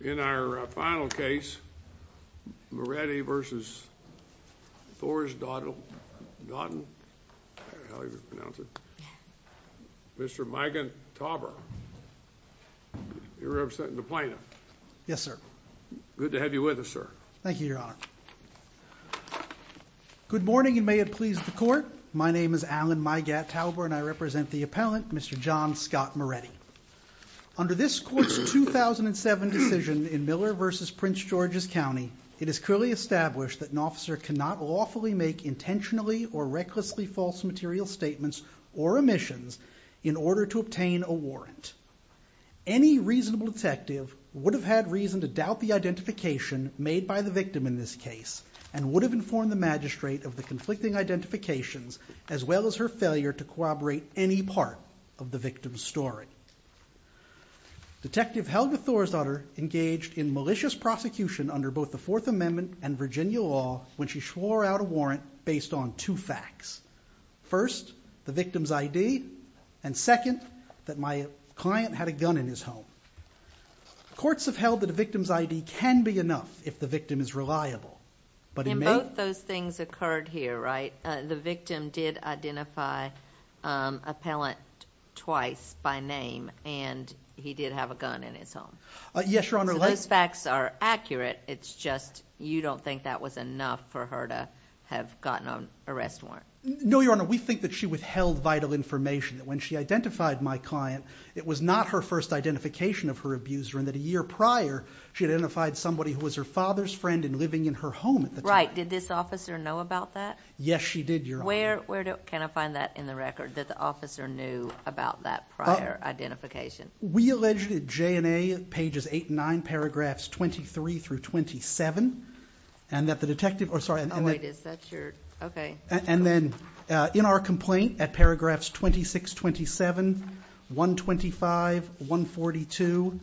In our final case, Moretti v. Thorsdottir, Mr. Migattauber, you're representing the plaintiff. Yes, sir. Good to have you with us, sir. Thank you, Your Honor. Good morning, and may it please the Court. My name is Alan Migattauber, and I represent the appellant, Mr. John Scott Moretti. Under this Court's 2007 decision in Miller v. Prince George's County, it is clearly established that an officer cannot lawfully make intentionally or recklessly false material statements or omissions in order to obtain a warrant. Any reasonable detective would have had reason to doubt the identification made by the victim in this case and would have informed the magistrate of the conflicting identifications, as well as her failure to corroborate any part of the victim's story. Detective Helga Thorsdottir engaged in malicious prosecution under both the Fourth Amendment and Virginia law when she swore out a warrant based on two facts. First, the victim's ID, and second, that my client had a gun in his home. Courts have held that a victim's ID can be enough if the victim is reliable, but it may— The victim did identify an appellant twice by name, and he did have a gun in his home. Yes, Your Honor. So those facts are accurate, it's just you don't think that was enough for her to have gotten an arrest warrant. No, Your Honor. We think that she withheld vital information, that when she identified my client, it was not her first identification of her abuser, and that a year prior, she identified somebody who was her father's friend and living in her home at the time. Right. Did this officer know about that? Yes, she did, Your Honor. Where can I find that in the record, that the officer knew about that prior identification? We alleged at J&A pages 8 and 9, paragraphs 23 through 27, and that the detective— Oh, wait, is that your—okay. And then in our complaint at paragraphs 26, 27, 125, 142,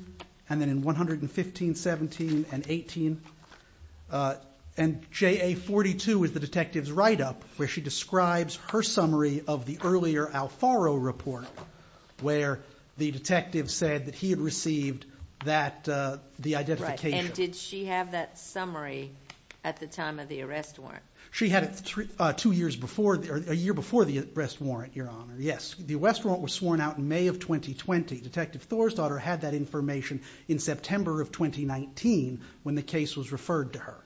and then in 115, 17, and 18, and JA 42 is the detective's write-up where she describes her summary of the earlier Alfaro report where the detective said that he had received that—the identification. Right, and did she have that summary at the time of the arrest warrant? She had it two years before—a year before the arrest warrant, Your Honor, yes. The arrest warrant was sworn out in May of 2020. Detective Thor's daughter had that information in September of 2019 when the case was referred to her.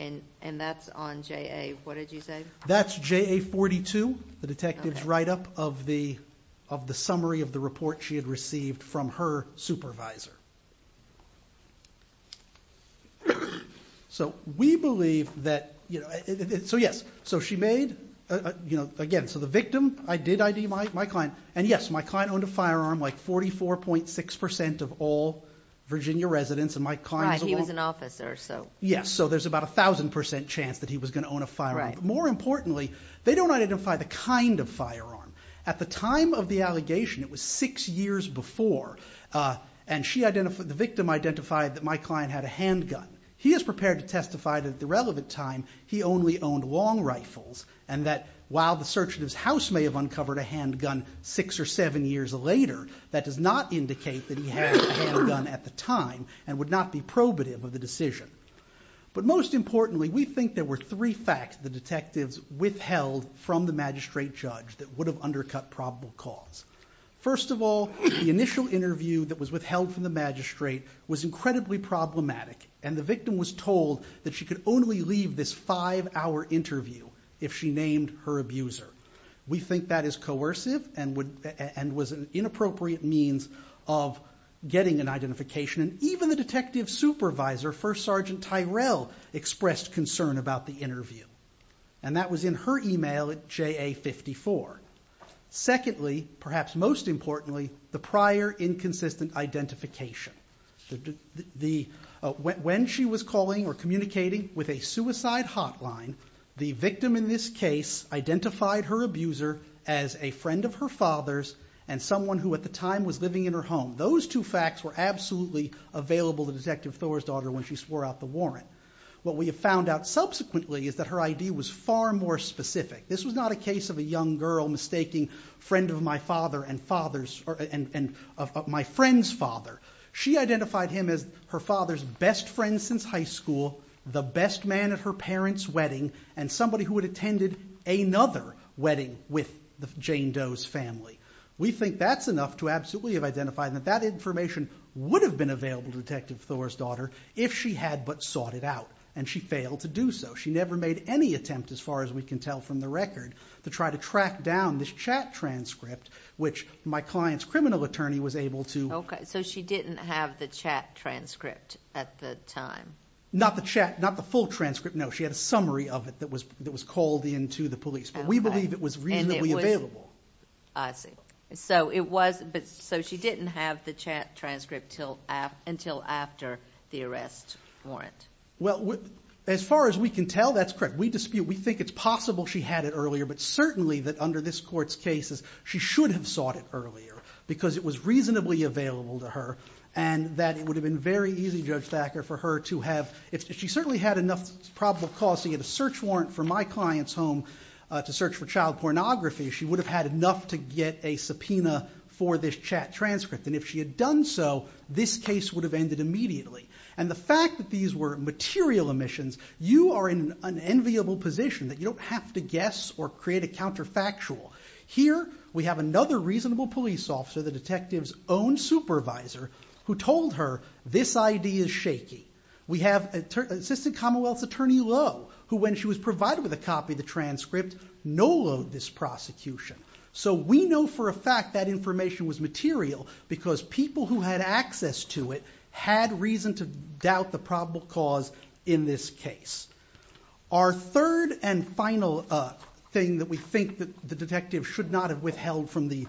And that's on JA—what did you say? That's JA 42, the detective's write-up of the summary of the report she had received from her supervisor. So we believe that—so yes, so she made—again, so the victim, I did ID my client, and yes, my client owned a firearm like 44.6% of all Virginia residents, and my client— Right, he was an officer, so— Yes, so there's about a 1,000% chance that he was going to own a firearm. Right. More importantly, they don't identify the kind of firearm. At the time of the allegation, it was six years before, and she identified—the victim identified that my client had a handgun. He is prepared to testify that at the relevant time he only owned long rifles, and that while the search of his house may have uncovered a handgun six or seven years later, that does not indicate that he had a handgun at the time and would not be probative of the decision. But most importantly, we think there were three facts the detectives withheld from the magistrate judge that would have undercut probable cause. First of all, the initial interview that was withheld from the magistrate was incredibly problematic, and the victim was told that she could only leave this five-hour interview if she named her abuser. We think that is coercive and was an inappropriate means of getting an identification, and even the detective supervisor, First Sergeant Tyrell, expressed concern about the interview, and that was in her email at JA-54. Secondly, perhaps most importantly, the prior inconsistent identification. When she was calling or communicating with a suicide hotline, the victim in this case identified her abuser as a friend of her father's and someone who at the time was living in her home. Those two facts were absolutely available to Detective Thor's daughter when she swore out the warrant. What we have found out subsequently is that her ID was far more specific. This was not a case of a young girl mistaking friend of my father and my friend's father. She identified him as her father's best friend since high school, the best man at her parents' wedding, and somebody who had attended another wedding with Jane Doe's family. We think that's enough to absolutely have identified that that information would have been available to Detective Thor's daughter if she had but sought it out, and she failed to do so. She never made any attempt, as far as we can tell from the record, to try to track down this chat transcript, which my client's criminal attorney was able to... Okay, so she didn't have the chat transcript at the time. Not the chat, not the full transcript, no. She had a summary of it that was called in to the police, but we believe it was reasonably available. I see. So she didn't have the chat transcript until after the arrest warrant. Well, as far as we can tell, that's correct. We dispute, we think it's possible she had it earlier, but certainly that under this court's cases, she should have sought it earlier because it was reasonably available to her, and that it would have been very easy, Judge Thacker, for her to have... She certainly had enough probable cause to get a search warrant for my client's home to search for child pornography. She would have had enough to get a subpoena for this chat transcript, and if she had done so, this case would have ended immediately. And the fact that these were material omissions, you are in an enviable position that you don't have to guess or create a counterfactual. Here we have another reasonable police officer, the detective's own supervisor, who told her, this idea is shaky. We have Assistant Commonwealth's Attorney Lowe, who when she was provided with a copy of the transcript, no-load this prosecution. So we know for a fact that information was material because people who had access to it had reason to doubt the probable cause in this case. Our third and final thing that we think the detective should not have withheld from the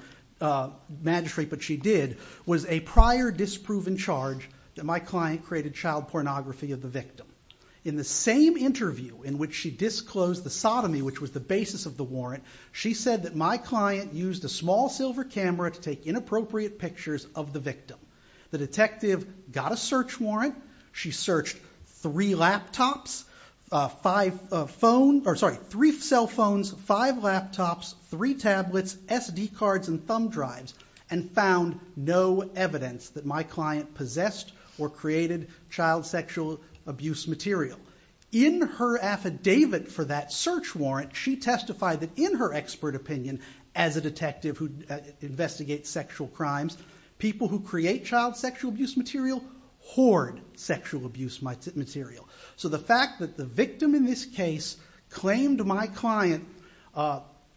magistrate, but she did, was a prior disproven charge that my client created child pornography of the victim. In the same interview in which she disclosed the sodomy, which was the basis of the warrant, she said that my client used a small silver camera to take inappropriate pictures of the victim. The detective got a search warrant. She searched three cell phones, five laptops, three tablets, SD cards and thumb drives, and found no evidence that my client possessed or created child sexual abuse material. In her affidavit for that search warrant, she testified that in her expert opinion, as a detective who investigates sexual crimes, people who create child sexual abuse material hoard sexual abuse material. So the fact that the victim in this case claimed my client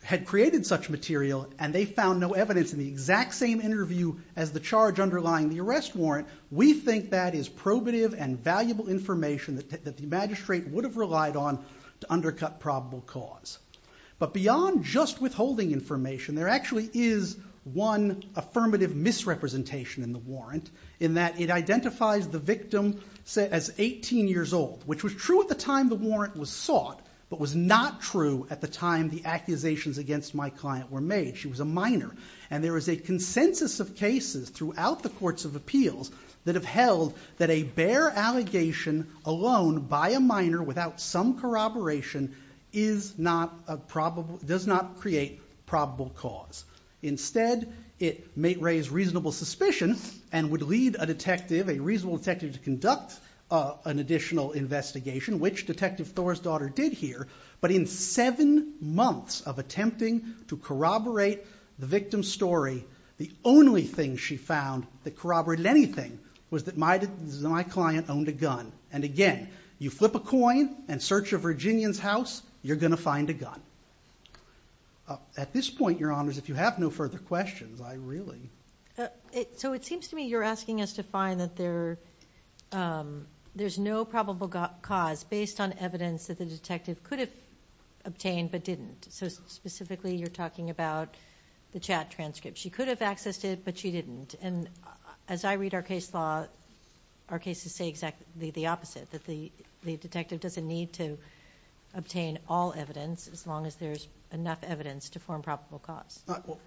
had created such material and they found no evidence in the exact same interview as the charge underlying the arrest warrant, we think that is probative and valuable information that the magistrate would have relied on to undercut probable cause. But beyond just withholding information, there actually is one affirmative misrepresentation in the warrant in that it identifies the victim as 18 years old, which was true at the time the warrant was sought, but was not true at the time the accusations against my client were made. She was a minor, and there is a consensus of cases throughout the courts of appeals that have held that a bare allegation alone by a minor without some corroboration is not a probable... ..does not create probable cause. Instead, it may raise reasonable suspicion and would lead a detective, a reasonable detective, to conduct an additional investigation, which Detective Thor's daughter did here. But in seven months of attempting to corroborate the victim's story, the only thing she found that corroborated anything was that my client owned a gun. And again, you flip a coin and search a Virginian's house, you're going to find a gun. At this point, Your Honours, if you have no further questions, I really... So it seems to me you're asking us to find that there's no probable cause based on evidence that the detective could have obtained but didn't. So specifically you're talking about the chat transcript. She could have accessed it, but she didn't. And as I read our case law, our cases say exactly the opposite, that the detective doesn't need to obtain all evidence as long as there's enough evidence to form probable cause.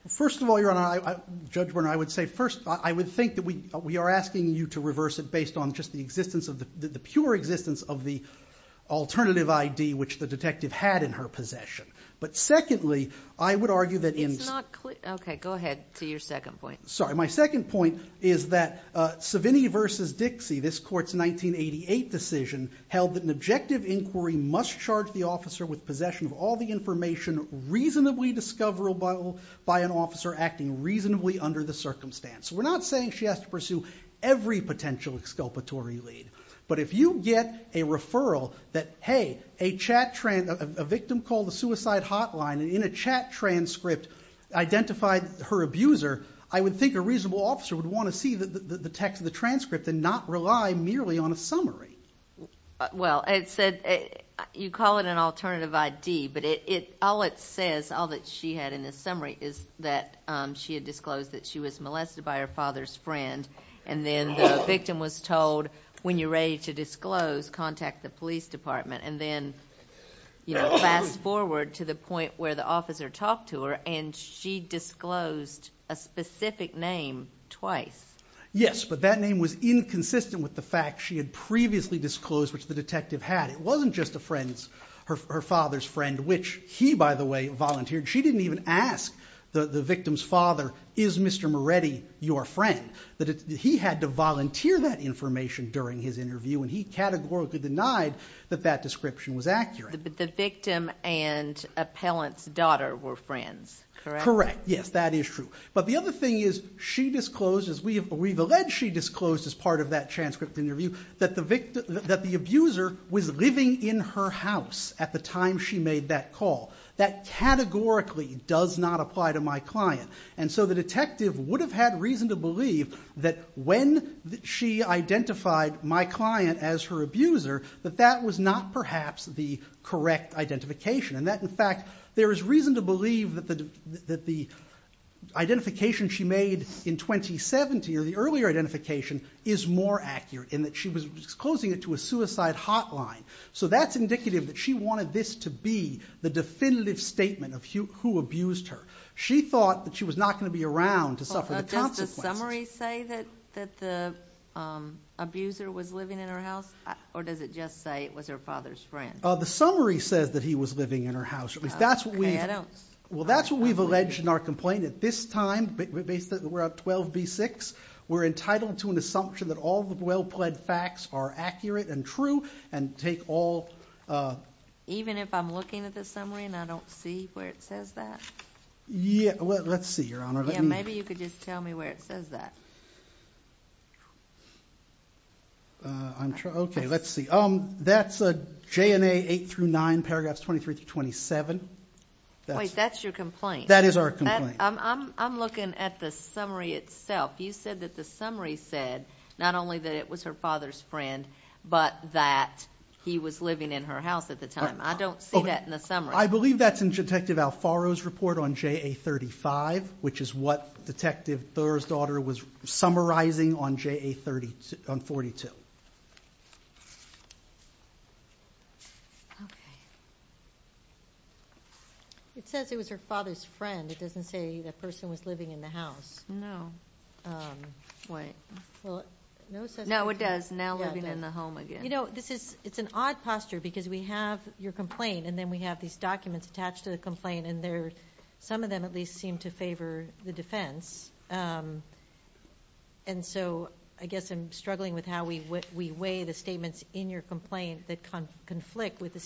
First of all, Your Honour, Judge Werner, I would say first, I would think that we are asking you to reverse it based on just the pure existence of the alternative ID which the detective had in her possession. But secondly, I would argue that... OK, go ahead to your second point. Sorry, my second point is that Savini v. Dixie, this court's 1988 decision, held that an objective inquiry must charge the officer with possession of all the information reasonably discoverable by an officer acting reasonably under the circumstance. So we're not saying she has to pursue every potential exculpatory lead. But if you get a referral that, hey, a victim called the suicide hotline and in a chat transcript identified her abuser, I would think a reasonable officer would want to see the text of the transcript and not rely merely on a summary. Well, it said... You call it an alternative ID, but all it says, all that she had in the summary, is that she had disclosed that she was molested by her father's friend and then the victim was told, when you're ready to disclose, contact the police department, and then fast forward to the point where the officer talked to her and she disclosed a specific name twice. Yes, but that name was inconsistent with the fact she had previously disclosed, which the detective had. It wasn't just her father's friend, which he, by the way, volunteered. She didn't even ask the victim's father, is Mr. Moretti your friend? He had to volunteer that information during his interview and he categorically denied that that description was accurate. The victim and appellant's daughter were friends, correct? Correct, yes, that is true. But the other thing is she disclosed, as we've alleged she disclosed as part of that transcript interview, that the abuser was living in her house at the time she made that call. That categorically does not apply to my client. And so the detective would have had reason to believe that when she identified my client as her abuser, that that was not perhaps the correct identification. In fact, there is reason to believe that the identification she made in 2017, or the earlier identification, is more accurate in that she was disclosing it to a suicide hotline. So that's indicative that she wanted this to be the definitive statement of who abused her. She thought that she was not going to be around to suffer the consequences. Does the summary say that the abuser was living in her house? Or does it just say it was her father's friend? The summary says that he was living in her house. Well, that's what we've alleged in our complaint. At this time, we're at 12B6, we're entitled to an assumption that all the well-pled facts are accurate and true and take all... Even if I'm looking at the summary and I don't see where it says that? Let's see, Your Honor. Maybe you could just tell me where it says that. I'm trying... Okay, let's see. That's JNA 8-9, paragraphs 23-27. Wait, that's your complaint? That is our complaint. I'm looking at the summary itself. You said that the summary said not only that it was her father's friend, but that he was living in her house at the time. I don't see that in the summary. I believe that's in Detective Alfaro's report on JA35, which is what Detective Thurr's daughter was summarizing on JA42. Okay. It says it was her father's friend. It doesn't say the person was living in the house. No. Wait. No, it does. Now living in the home again. You know, it's an odd posture because we have your complaint and then we have these documents attached to the complaint and some of them at least seem to favor the defense. And so I guess I'm struggling with how we weigh the statements in your complaint that conflict with the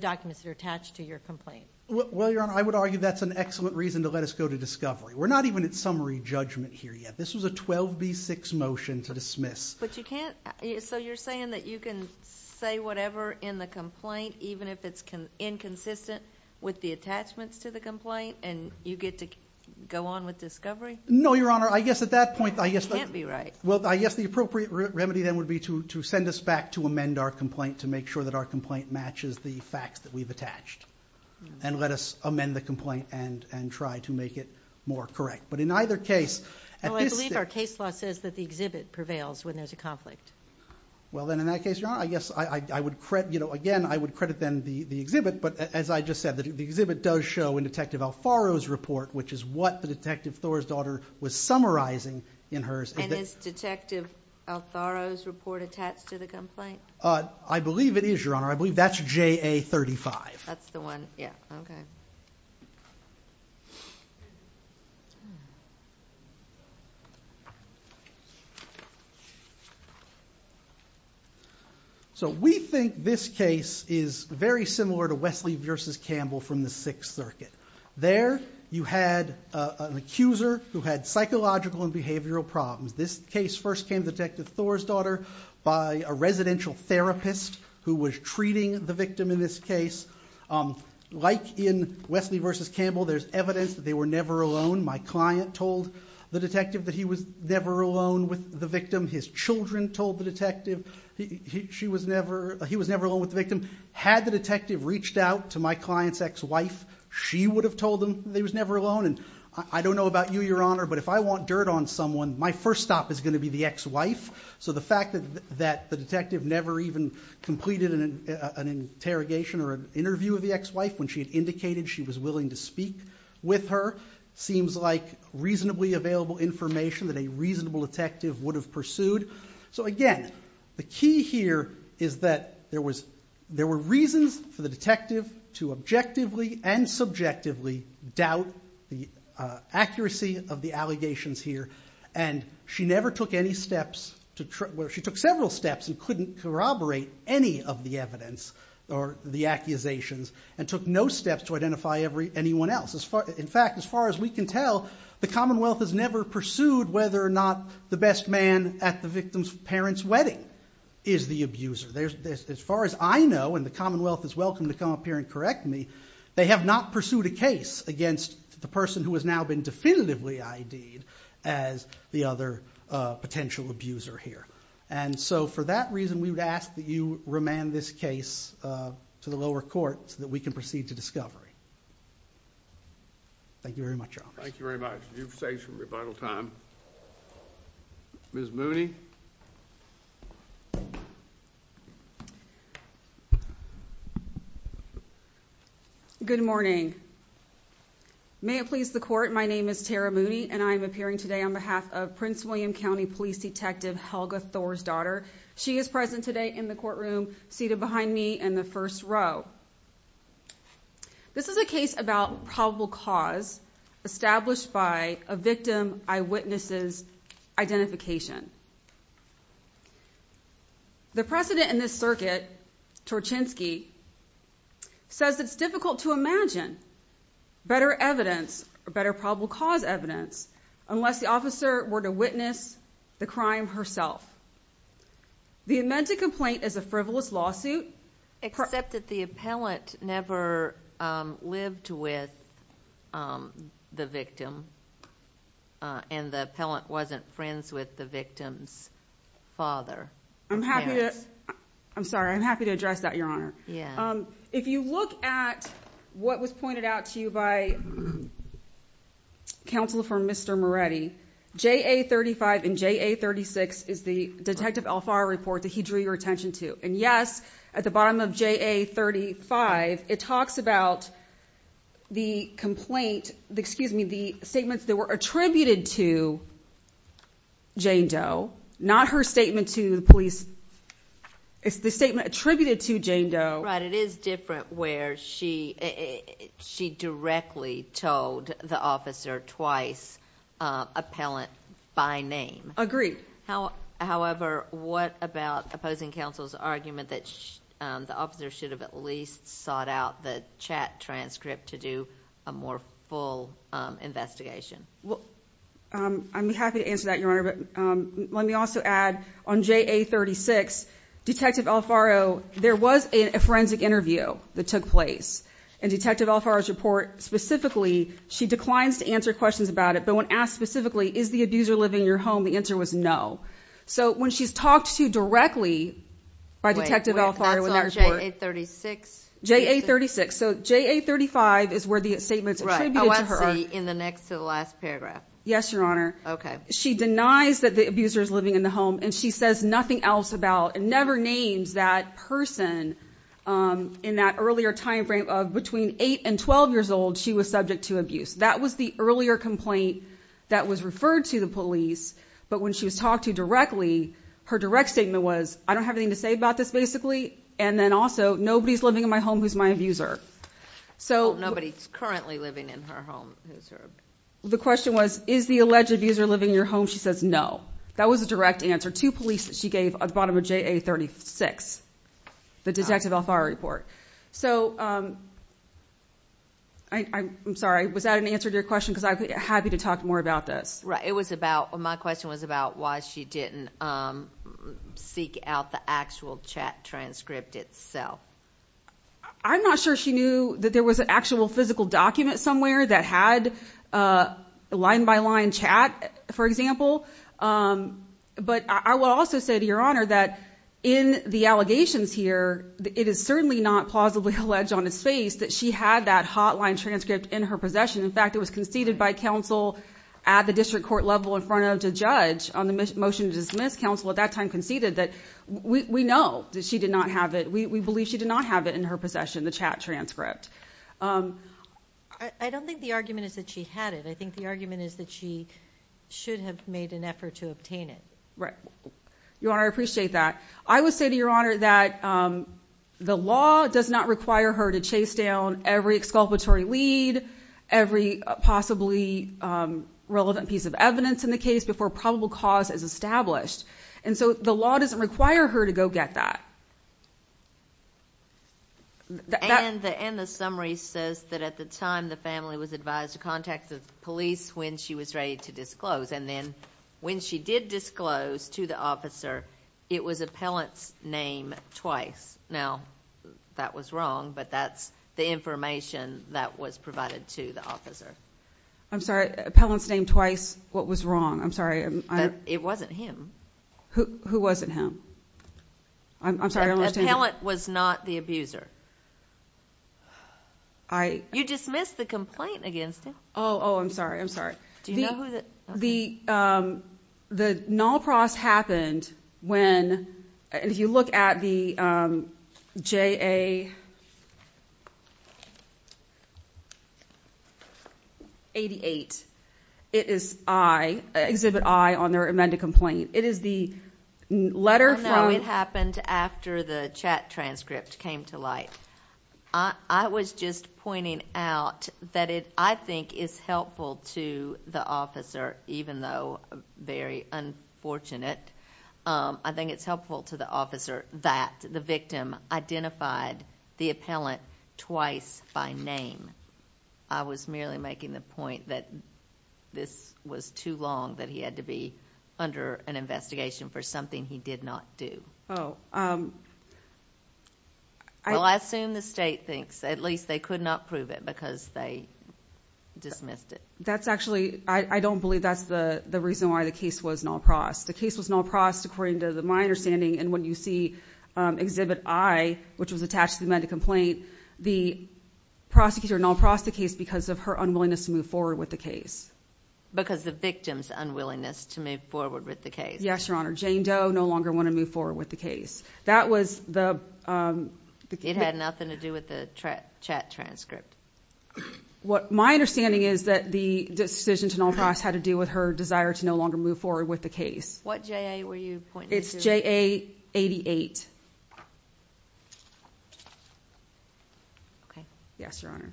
documents that are attached to your complaint. Well, Your Honor, I would argue that's an excellent reason to let us go to discovery. We're not even at summary judgment here yet. This was a 12B6 motion to dismiss. But you can't... So you're saying that you can say whatever in the complaint even if it's inconsistent with the attachments to the complaint and you get to go on with discovery? No, Your Honor. I guess at that point... You can't be right. Well, I guess the appropriate remedy then would be to send us back to amend our complaint to make sure that our complaint matches the facts that we've attached and let us amend the complaint and try to make it more correct. But in either case... I believe our case law says that the exhibit prevails when there's a conflict. Well, then, in that case, Your Honor, I guess I would credit... Again, I would credit then the exhibit, but as I just said, the exhibit does show in Detective Alfaro's report, which is what the Detective Thor's daughter was summarizing in hers. And is Detective Alfaro's report attached to the complaint? I believe it is, Your Honor. I believe that's JA35. That's the one. Yeah. Okay. So we think this case is very similar to Wesley v. Campbell from the Sixth Circuit. There, you had an accuser who had psychological and behavioral problems. This case first came to Detective Thor's daughter by a residential therapist who was treating the victim in this case. Like in Wesley v. Campbell, there's evidence that they were never alone. My client told the detective that he was never alone with the victim. His children told the detective he was never alone with the victim. Had the detective reached out to my client's ex-wife, she would have told him he was never alone. And I don't know about you, Your Honor, but if I want dirt on someone, my first stop is going to be the ex-wife. So the fact that the detective never even completed an interrogation or an interview with the ex-wife when she had indicated she was willing to speak with her seems like reasonably available information that a reasonable detective would have pursued. So again, the key here is that there were reasons for the detective to objectively and subjectively doubt the accuracy of the allegations here. And she never took any steps... Well, she took several steps and couldn't corroborate any of the evidence or the accusations and took no steps to identify anyone else. In fact, as far as we can tell, the Commonwealth has never pursued whether or not the best man at the victim's parents' wedding is the abuser. As far as I know, and the Commonwealth is welcome to come up here and correct me, they have not pursued a case against the person who has now been definitively ID'd as the other potential abuser here. And so for that reason, we would ask that you remand this case to the lower court so that we can proceed to discovery. Thank you very much, Your Honor. Thank you very much. You've saved some rebuttal time. Ms. Mooney? Good morning. May it please the court, my name is Tara Mooney and I am appearing today on behalf of Prince William County Police Detective Helga Thor's daughter. She is present today in the courtroom, seated behind me in the first row. This is a case about probable cause established by a victim eyewitness's identification. The precedent in this circuit, Torchinsky, says it's difficult to imagine better evidence, better probable cause evidence, unless the officer were to witness the crime herself. The amended complaint is a frivolous lawsuit... Except that the appellant never lived with the victim and the appellant wasn't friends with the victim's father. I'm sorry, I'm happy to address that, Your Honor. If you look at what was pointed out to you by counsel for Mr. Moretti, JA35 and JA36 is the Detective Alfaro report that he drew your attention to. And yes, at the bottom of JA35, it talks about the statements that were attributed to Jane Doe, not her statement to the police. It's the statement attributed to Jane Doe. Right, it is different where she directly told the officer twice, appellant by name. Agreed. However, what about opposing counsel's argument that the officer should have at least sought out the chat transcript to do a more full investigation? I'm happy to answer that, Your Honor, but let me also add on JA36, Detective Alfaro, there was a forensic interview that took place. In Detective Alfaro's report, specifically, she declines to answer questions about it, but when asked specifically, is the abuser living in your home, the answer was no. So when she's talked to directly by Detective Alfaro in that report... Wait, that's on JA36? JA36. So JA35 is where the statements attributed to her... Right, I want to see in the next to the last paragraph. Yes, Your Honor. Okay. She denies that the abuser is living in the home, and she says nothing else about, and never names that person in that earlier time frame of between 8 and 12 years old she was subject to abuse. That was the earlier complaint that was referred to the police, but when she was talked to directly, her direct statement was, I don't have anything to say about this, basically, and then also, nobody's living in my home who's my abuser. Nobody's currently living in her home who's her abuser. The question was, is the alleged abuser living in your home? She says no. That was the direct answer to police that she gave at the bottom of JA36, the Detective Alfaro report. So I'm sorry. Was that an answer to your question? Because I'd be happy to talk more about this. Right. My question was about why she didn't seek out the actual chat transcript itself. I'm not sure she knew that there was an actual physical document somewhere that had a line-by-line chat, for example. But I will also say to Your Honor that in the allegations here, it is certainly not plausibly alleged on its face that she had that hotline transcript in her possession. In fact, it was conceded by counsel at the district court level in front of the judge on the motion to dismiss counsel at that time conceded that we know that she did not have it. We believe she did not have it in her possession, the chat transcript. I don't think the argument is that she had it. I think the argument is that she should have made an effort to obtain it. Right. Your Honor, I appreciate that. I would say to Your Honor that the law does not require her to chase down every exculpatory lead, every possibly relevant piece of evidence in the case before probable cause is established. And so the law doesn't require her to go get that. And the summary says that at the time the family was advised to contact the police when she was ready to disclose. And then when she did disclose to the officer, it was appellant's name twice. Now, that was wrong, but that's the information that was provided to the officer. I'm sorry. Appellant's name twice. What was wrong? I'm sorry. It wasn't him. Who wasn't him? I'm sorry. Appellant was not the abuser. You dismissed the complaint against him. Oh, I'm sorry. I'm sorry. Do you know who the? The Nolpross happened when, if you look at the JA88, it is I, Exhibit I on their amended complaint. It is the letter from. I know it happened after the chat transcript came to light. I was just pointing out that it, I think, is helpful to the officer, even though very unfortunate. I think it's helpful to the officer that the victim identified the appellant twice by name. I was merely making the point that this was too long, that he had to be under an investigation for something he did not do. Oh. Well, I assume the state thinks, at least they could not prove it because they dismissed it. That's actually, I don't believe that's the reason why the case was Nolpross. The case was Nolpross, according to my understanding, and when you see Exhibit I, which was attached to the amended complaint, the prosecutor Nolprossed the case because of her unwillingness to move forward with the case. Because the victim's unwillingness to move forward with the case. Yes, Your Honor. Jane Doe no longer wanted to move forward with the case. It had nothing to do with the chat transcript. My understanding is that the decision to Nolpross had to do with her desire to no longer move forward with the case. What J.A. were you pointing to? It's J.A. 88. Okay. Yes, Your Honor.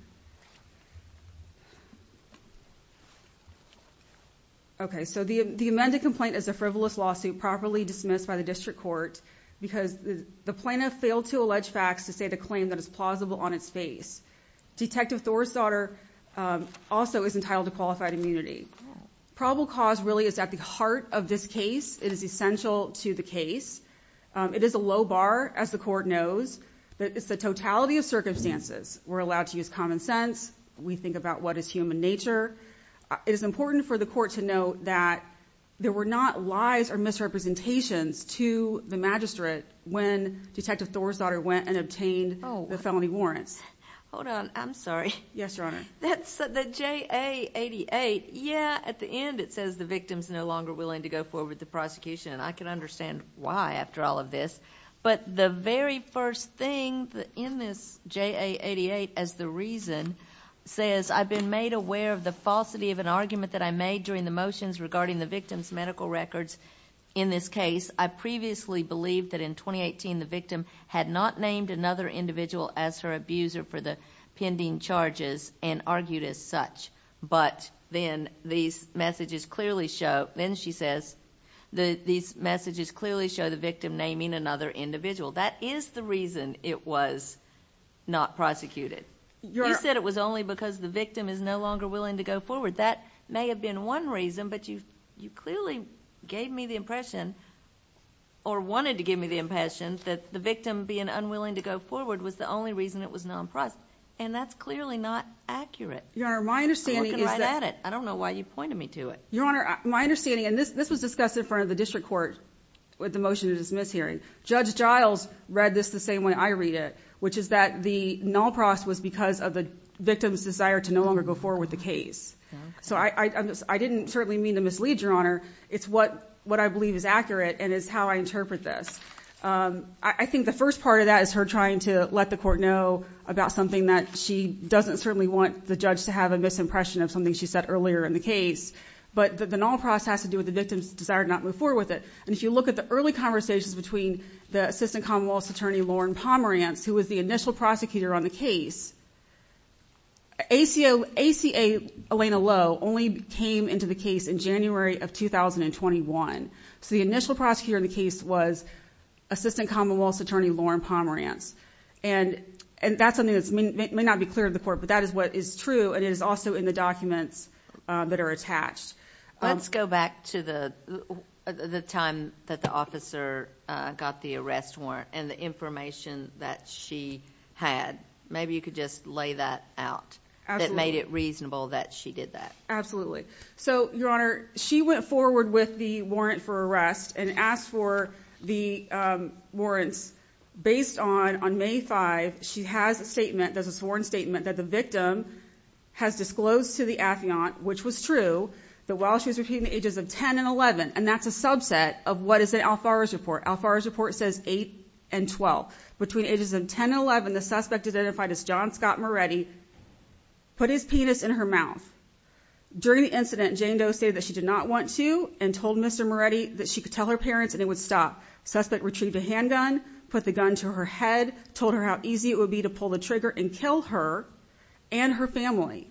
Okay. So the amended complaint is a frivolous lawsuit properly dismissed by the district court because the plaintiff failed to allege facts to state a claim that is plausible on its face. Detective Thor's daughter also is entitled to qualified immunity. Probable cause really is at the heart of this case. It is essential to the case. It is a low bar, as the court knows, but it's the totality of circumstances we're allowed to use common sense, we think about what is human nature. It is important for the court to note that there were not lies or misrepresentations to the magistrate when Detective Thor's daughter went and obtained the felony warrants. Hold on, I'm sorry. Yes, Your Honor. That's the J.A. 88. Yeah, at the end it says the victim's no longer willing to go forward with the prosecution, and I can understand why after all of this. But the very first thing in this J.A. 88 as the reason says, I've been made aware of the falsity of an argument that I made during the motions regarding the victim's medical records in this case. I previously believed that in 2018 the victim had not named another individual as her abuser for the pending charges and argued as such. But then these messages clearly show the victim naming another individual. That is the reason it was not prosecuted. You said it was only because the victim is no longer willing to go forward. That may have been one reason, but you clearly gave me the impression or wanted to give me the impression that the victim being unwilling to go forward was the only reason it was not prosecuted, and that's clearly not accurate. Your Honor, my understanding is that... I'm looking right at it. I don't know why you pointed me to it. Your Honor, my understanding, and this was discussed in front of the district court with the motion to dismiss hearing. Judge Giles read this the same way I read it, which is that the null process was because of the victim's desire to no longer go forward with the case. So I didn't certainly mean to mislead, Your Honor. It's what I believe is accurate and is how I interpret this. I think the first part of that is her trying to let the court know about something that she doesn't certainly want the judge to have a misimpression of something she said earlier in the case. But the null process has to do with the victim's desire to not move forward with it. And if you look at the early conversations between the assistant commonwealth's attorney, Lauren Pomerantz, who was the initial prosecutor on the case, ACA Elena Lowe only came into the case in January of 2021. So the initial prosecutor in the case was assistant commonwealth's attorney, Lauren Pomerantz. And that's something that may not be clear to the court, but that is what is true, and it is also in the documents that are attached. Let's go back to the time that the officer got the arrest warrant and the information that she had. Maybe you could just lay that out. That made it reasonable that she did that. So, Your Honor, she went forward with the warrant for arrest and asked for the warrants. Based on May 5, she has a statement, there's a sworn statement, that the victim has disclosed to the affiant, which was true, that while she was repeating the ages of 10 and 11, and that's a subset of what is in Alfaro's report. Alfaro's report says 8 and 12. Between ages of 10 and 11, the suspect identified as John Scott Moretti put his penis in her mouth. During the incident, Jane Doe stated that she did not want to and told Mr. Moretti that she could tell her parents and it would stop. Suspect retrieved a handgun, put the gun to her head, told her how easy it would be to pull the trigger and kill her and her family.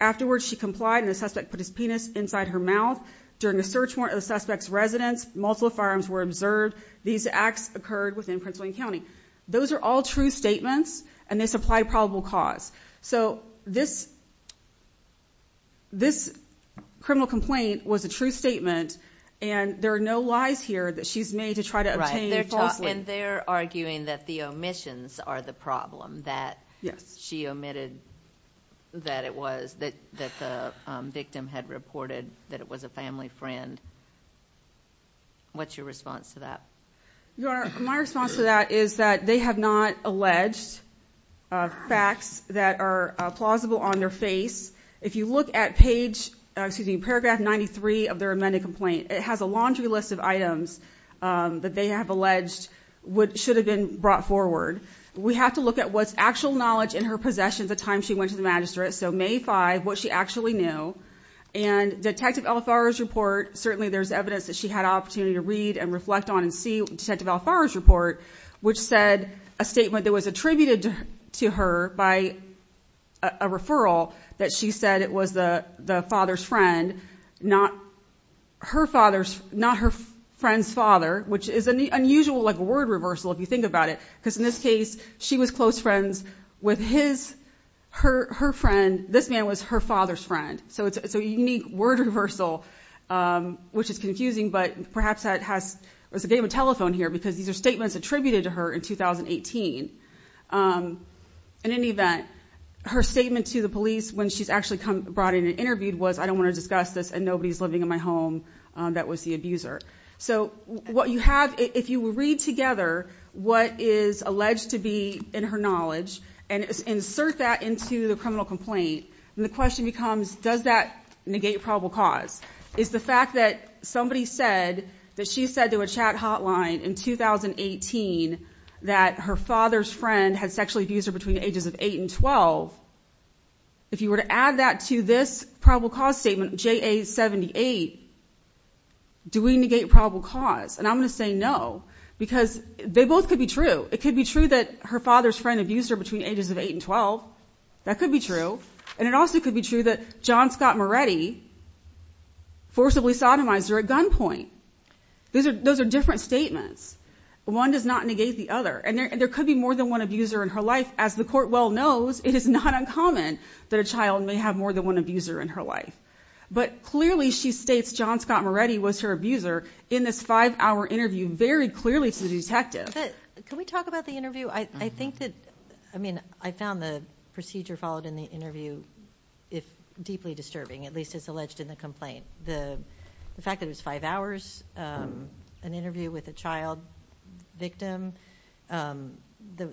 Afterwards, she complied, and the suspect put his penis inside her mouth. During the search warrant of the suspect's residence, multiple firearms were observed. These acts occurred within Prince William County. Those are all true statements, and they supply probable cause. So this criminal complaint was a true statement, and there are no lies here that she's made to try to obtain falsely. And they're arguing that the omissions are the problem, that she omitted that the victim had reported that it was a family friend. What's your response to that? Your Honor, my response to that is that they have not alleged facts that are plausible on their face. If you look at paragraph 93 of their amended complaint, it has a laundry list of items that they have alleged should have been brought forward. We have to look at what's actual knowledge in her possessions at the time she went to the magistrate, so May 5, what she actually knew. And Detective Elfaro's report, certainly there's evidence that she had opportunity to read and reflect on and see Detective Elfaro's report, which said a statement that was attributed to her by a referral that she said it was the father's friend, not her friend's father, which is an unusual word reversal if you think about it, because in this case she was close friends with his friend. This man was her father's friend, so it's a unique word reversal, which is confusing, but perhaps that has a game of telephone here because these are statements attributed to her in 2018. In any event, her statement to the police when she's actually brought in and interviewed was, I don't want to discuss this, and nobody's living in my home. That was the abuser. So what you have, if you read together what is alleged to be in her knowledge and insert that into the criminal complaint, then the question becomes, does that negate probable cause? Is the fact that somebody said that she said to a chat hotline in 2018 that her father's friend had sexually abused her between the ages of 8 and 12, if you were to add that to this probable cause statement, J.A. 78, do we negate probable cause? And I'm going to say no, because they both could be true. It could be true that her father's friend abused her between the ages of 8 and 12. That could be true. And it also could be true that John Scott Moretti forcibly sodomized her at gunpoint. Those are different statements. One does not negate the other. And there could be more than one abuser in her life. As the court well knows, it is not uncommon that a child may have more than one abuser in her life. But clearly she states John Scott Moretti was her abuser in this five-hour interview, very clearly to the detective. Can we talk about the interview? I think that, I mean, I found the procedure followed in the interview deeply disturbing, at least as alleged in the complaint. The fact that it was five hours, an interview with a child victim, the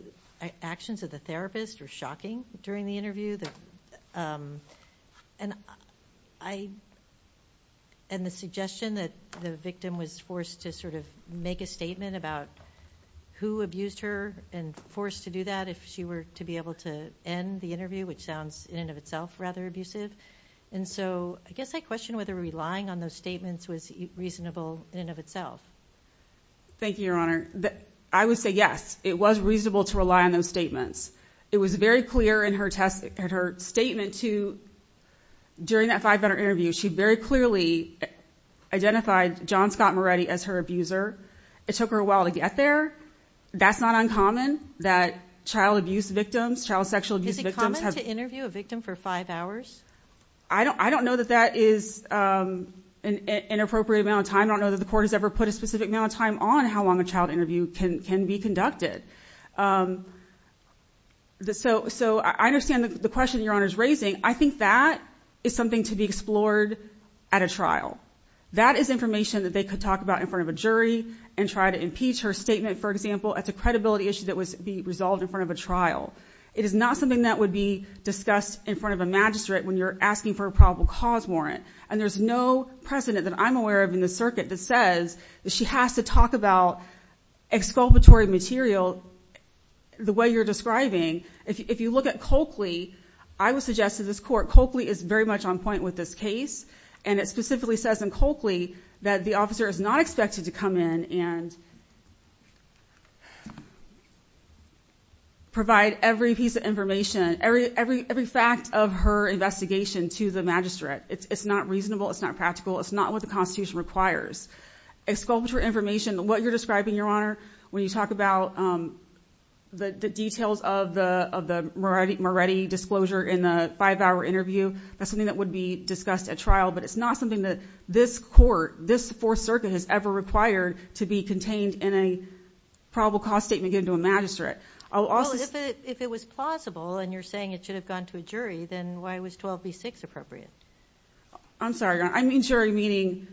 actions of the therapist were shocking during the interview, and the suggestion that the victim was forced to sort of make a statement about who abused her and forced to do that if she were to be able to end the interview, which sounds in and of itself rather abusive. And so I guess I question whether relying on those statements was reasonable in and of itself. Thank you, Your Honor. I would say yes, it was reasonable to rely on those statements. It was very clear in her statement to, during that five-hour interview, she very clearly identified John Scott Moretti as her abuser. It took her a while to get there. That's not uncommon, that child abuse victims, child sexual abuse victims have— Is it common to interview a victim for five hours? I don't know that that is an appropriate amount of time. I don't know that the court has ever put a specific amount of time on how long a child interview can be conducted. So I understand the question Your Honor is raising. I think that is something to be explored at a trial. That is information that they could talk about in front of a jury and try to impeach her statement, for example. That's a credibility issue that would be resolved in front of a trial. It is not something that would be discussed in front of a magistrate when you're asking for a probable cause warrant. And there's no precedent that I'm aware of in the circuit that says that she has to talk about exculpatory material the way you're describing. If you look at Coakley, I would suggest to this court, Coakley is very much on point with this case. And it specifically says in Coakley that the officer is not expected to come in and provide every piece of information, every fact of her investigation to the magistrate. It's not reasonable. It's not practical. It's not what the Constitution requires. Exculpatory information, what you're describing, Your Honor, when you talk about the details of the Moretti disclosure in the five-hour interview, that's something that would be discussed at trial. But it's not something that this court, this Fourth Circuit has ever required to be contained in a probable cause statement given to a magistrate. Well, if it was plausible and you're saying it should have gone to a jury, then why was 12B6 appropriate? I'm sorry, Your Honor. I mean jury, meaning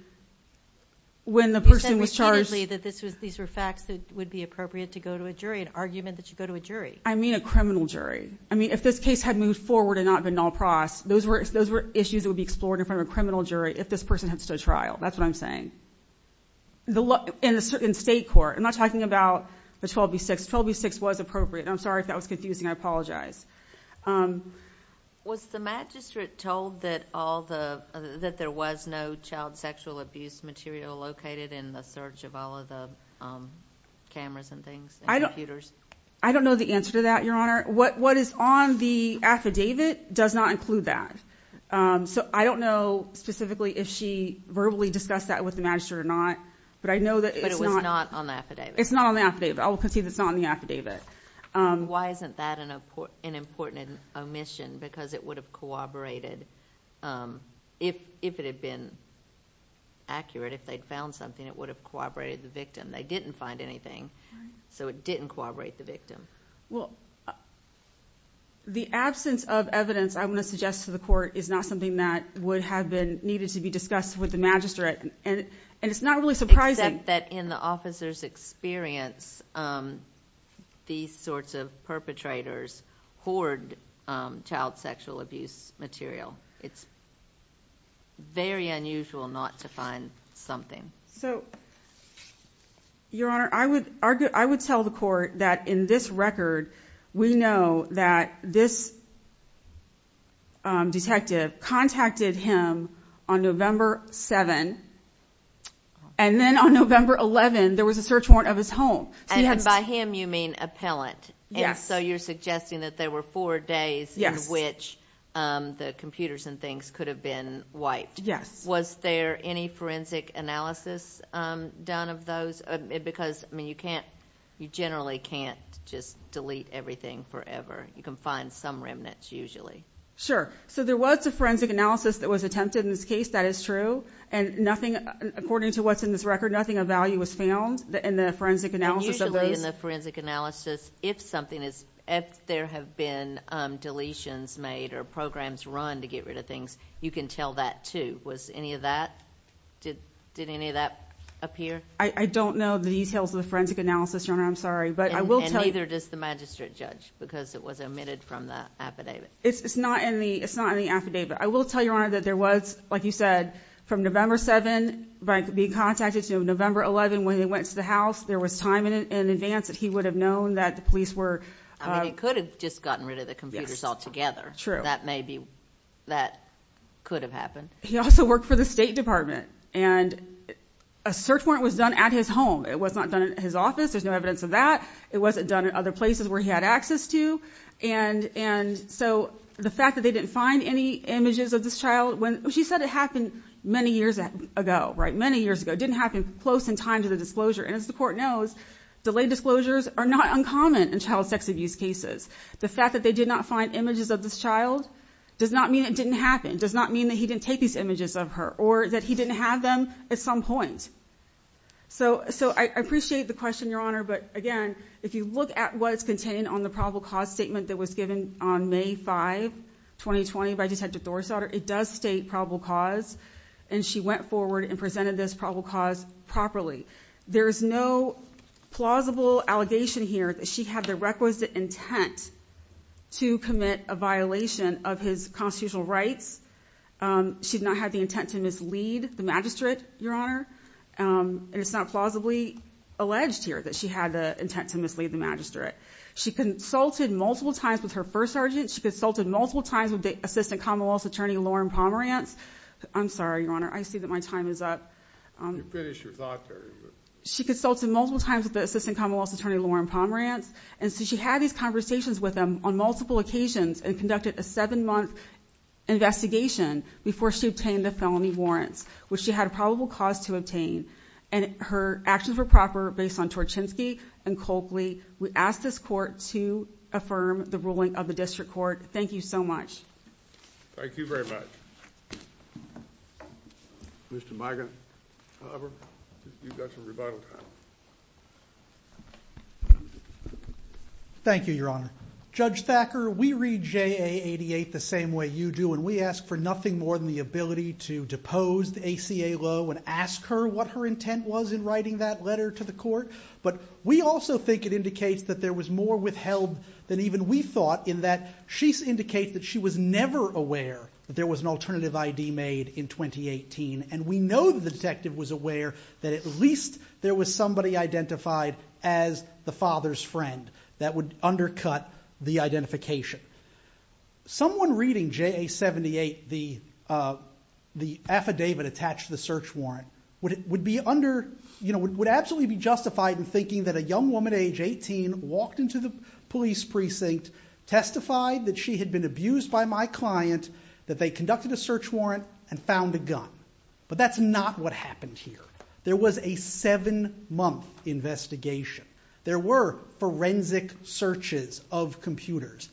when the person was charged. You said repeatedly that these were facts that would be appropriate to go to a jury, an argument that should go to a jury. I mean a criminal jury. I mean if this case had moved forward and not been null pross, those were issues that would be explored in front of a criminal jury if this person had stood trial. That's what I'm saying. In state court, I'm not talking about the 12B6. 12B6 was appropriate. I'm sorry if that was confusing. I apologize. Was the magistrate told that there was no child sexual abuse material located in the search of all of the cameras and things and computers? I don't know the answer to that, Your Honor. What is on the affidavit does not include that. So I don't know specifically if she verbally discussed that with the magistrate or not. But it was not on the affidavit. It's not on the affidavit. I will concede it's not on the affidavit. Why isn't that an important omission? Because it would have corroborated, if it had been accurate, if they'd found something, it would have corroborated the victim. They didn't find anything, so it didn't corroborate the victim. Well, the absence of evidence, I'm going to suggest to the court, is not something that would have been needed to be discussed with the magistrate. And it's not really surprising. Except that in the officer's experience, these sorts of perpetrators hoard child sexual abuse material. It's very unusual not to find something. So, Your Honor, I would tell the court that in this record, we know that this detective contacted him on November 7. And then on November 11, there was a search warrant of his home. And by him, you mean appellant. Yes. And so you're suggesting that there were four days in which the computers and things could have been wiped. Yes. Was there any forensic analysis done of those? Because, I mean, you can't, you generally can't just delete everything forever. You can find some remnants, usually. Sure. So there was a forensic analysis that was attempted in this case, that is true. And nothing, according to what's in this record, nothing of value was found in the forensic analysis of those. Usually in the forensic analysis, if something is, if there have been deletions made or programs run to get rid of things, you can tell that, too. Was any of that, did any of that appear? I don't know the details of the forensic analysis, Your Honor. I'm sorry. And neither does the magistrate judge because it was omitted from the affidavit. It's not in the affidavit. I will tell Your Honor that there was, like you said, from November 7 being contacted to November 11 when they went to the house, there was time in advance that he would have known that the police were. I mean, he could have just gotten rid of the computers altogether. True. That may be, that could have happened. He also worked for the State Department, and a search warrant was done at his home. It was not done at his office. There's no evidence of that. It wasn't done at other places where he had access to. And so the fact that they didn't find any images of this child when she said it happened many years ago, right, many years ago, didn't happen close in time to the disclosure. And as the court knows, delayed disclosures are not uncommon in child sex abuse cases. The fact that they did not find images of this child does not mean it didn't happen, does not mean that he didn't take these images of her or that he didn't have them at some point. So I appreciate the question, Your Honor. But again, if you look at what's contained on the probable cause statement that was given on May 5, 2020, by Detective Thorsauder, it does state probable cause, and she went forward and presented this probable cause properly. There is no plausible allegation here that she had the requisite intent to commit a violation of his constitutional rights. She did not have the intent to mislead the magistrate, Your Honor. And it's not plausibly alleged here that she had the intent to mislead the magistrate. She consulted multiple times with her first sergeant. She consulted multiple times with the Assistant Commonwealth's Attorney, Loren Pomerantz. I'm sorry, Your Honor. I see that my time is up. You finished your thought period. She consulted multiple times with the Assistant Commonwealth's Attorney, Loren Pomerantz. And so she had these conversations with him on multiple occasions and conducted a seven-month investigation before she obtained the felony warrants, which she had a probable cause to obtain. And her actions were proper based on Torchinsky and Coakley. We ask this Court to affirm the ruling of the District Court. Thank you so much. Thank you very much. Mr. Mica, however, you've got some rebuttal time. Thank you, Your Honor. Judge Thacker, we read JA 88 the same way you do, and we ask for nothing more than the ability to depose the ACA law and ask her what her intent was in writing that letter to the Court. But we also think it indicates that there was more withheld than even we thought in that she indicates that she was never aware that there was an alternative ID made in 2018. And we know the detective was aware that at least there was somebody identified as the father's friend that would undercut the identification. Someone reading JA 78, the affidavit attached to the search warrant, would absolutely be justified in thinking that a young woman, age 18, walked into the police precinct, testified that she had been abused by my client, that they conducted a search warrant and found a gun. But that's not what happened here. There was a seven-month investigation. There were forensic searches of computers.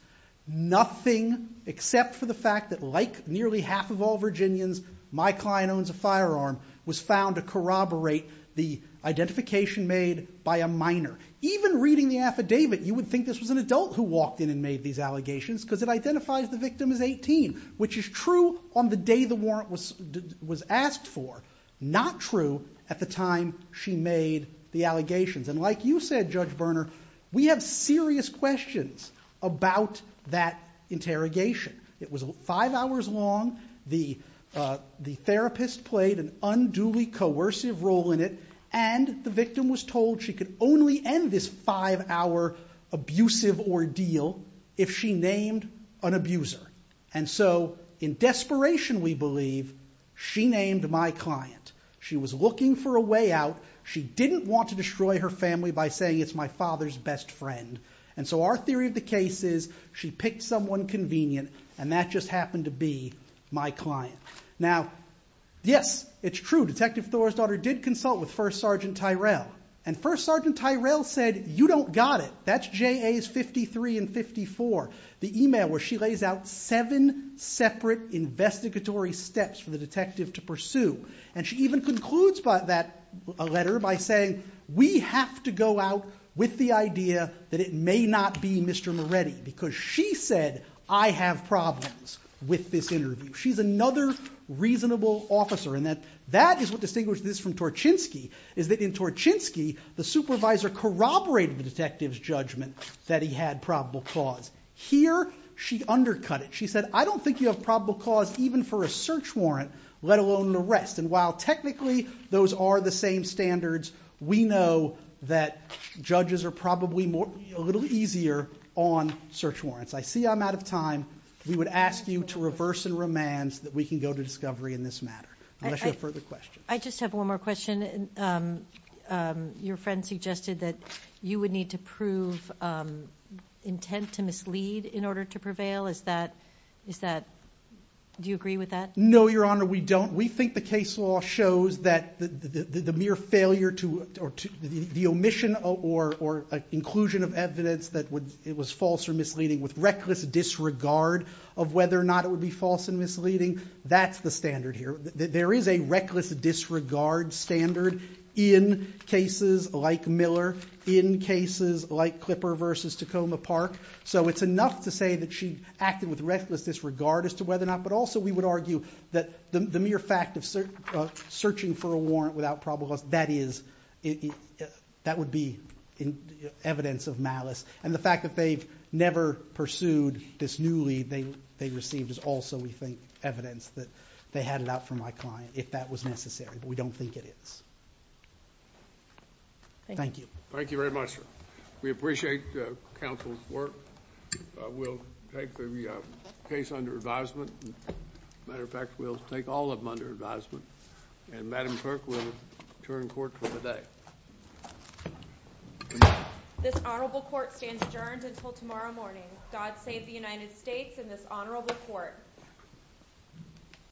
Nothing, except for the fact that like nearly half of all Virginians, my client owns a firearm, was found to corroborate the identification made by a minor. Even reading the affidavit, you would think this was an adult who walked in and made these allegations because it identifies the victim as 18, which is true on the day the warrant was asked for. Not true at the time she made the allegations. And like you said, Judge Berner, we have serious questions about that interrogation. It was five hours long. The therapist played an unduly coercive role in it. And the victim was told she could only end this five-hour abusive ordeal if she named an abuser. And so in desperation, we believe, she named my client. She was looking for a way out. She didn't want to destroy her family by saying it's my father's best friend. And so our theory of the case is she picked someone convenient, and that just happened to be my client. Now, yes, it's true. Detective Thor's daughter did consult with First Sergeant Tyrell. And First Sergeant Tyrell said, you don't got it. That's J.A.'s 53 and 54, the email where she lays out seven separate investigatory steps for the detective to pursue. And she even concludes that letter by saying, we have to go out with the idea that it may not be Mr. Moretti because she said, I have problems with this interview. She's another reasonable officer. And that is what distinguished this from Torchinsky, is that in Torchinsky, the supervisor corroborated the detective's judgment that he had probable cause. Here, she undercut it. She said, I don't think you have probable cause even for a search warrant, let alone an arrest. And while technically those are the same standards, we know that judges are probably a little easier on search warrants. I see I'm out of time. We would ask you to reverse and remand that we can go to discovery in this matter, unless you have further questions. I just have one more question. Your friend suggested that you would need to prove intent to mislead in order to prevail. Is that – do you agree with that? No, Your Honor, we don't. We think the case law shows that the mere failure to – the omission or inclusion of evidence that it was false or misleading with reckless disregard of whether or not it would be false and misleading, that's the standard here. There is a reckless disregard standard in cases like Miller, in cases like Clipper v. Tacoma Park. So it's enough to say that she acted with reckless disregard as to whether or not – but also we would argue that the mere fact of searching for a warrant without probable cause, that is – that would be evidence of malice. And the fact that they've never pursued this newly they received is also, we think, evidence that they had it out for my client, if that was necessary. But we don't think it is. Thank you. Thank you very much, sir. We appreciate counsel's work. We'll take the case under advisement. As a matter of fact, we'll take all of them under advisement. And Madam Clerk will return court for the day. This honorable court stands adjourned until tomorrow morning. God save the United States and this honorable court.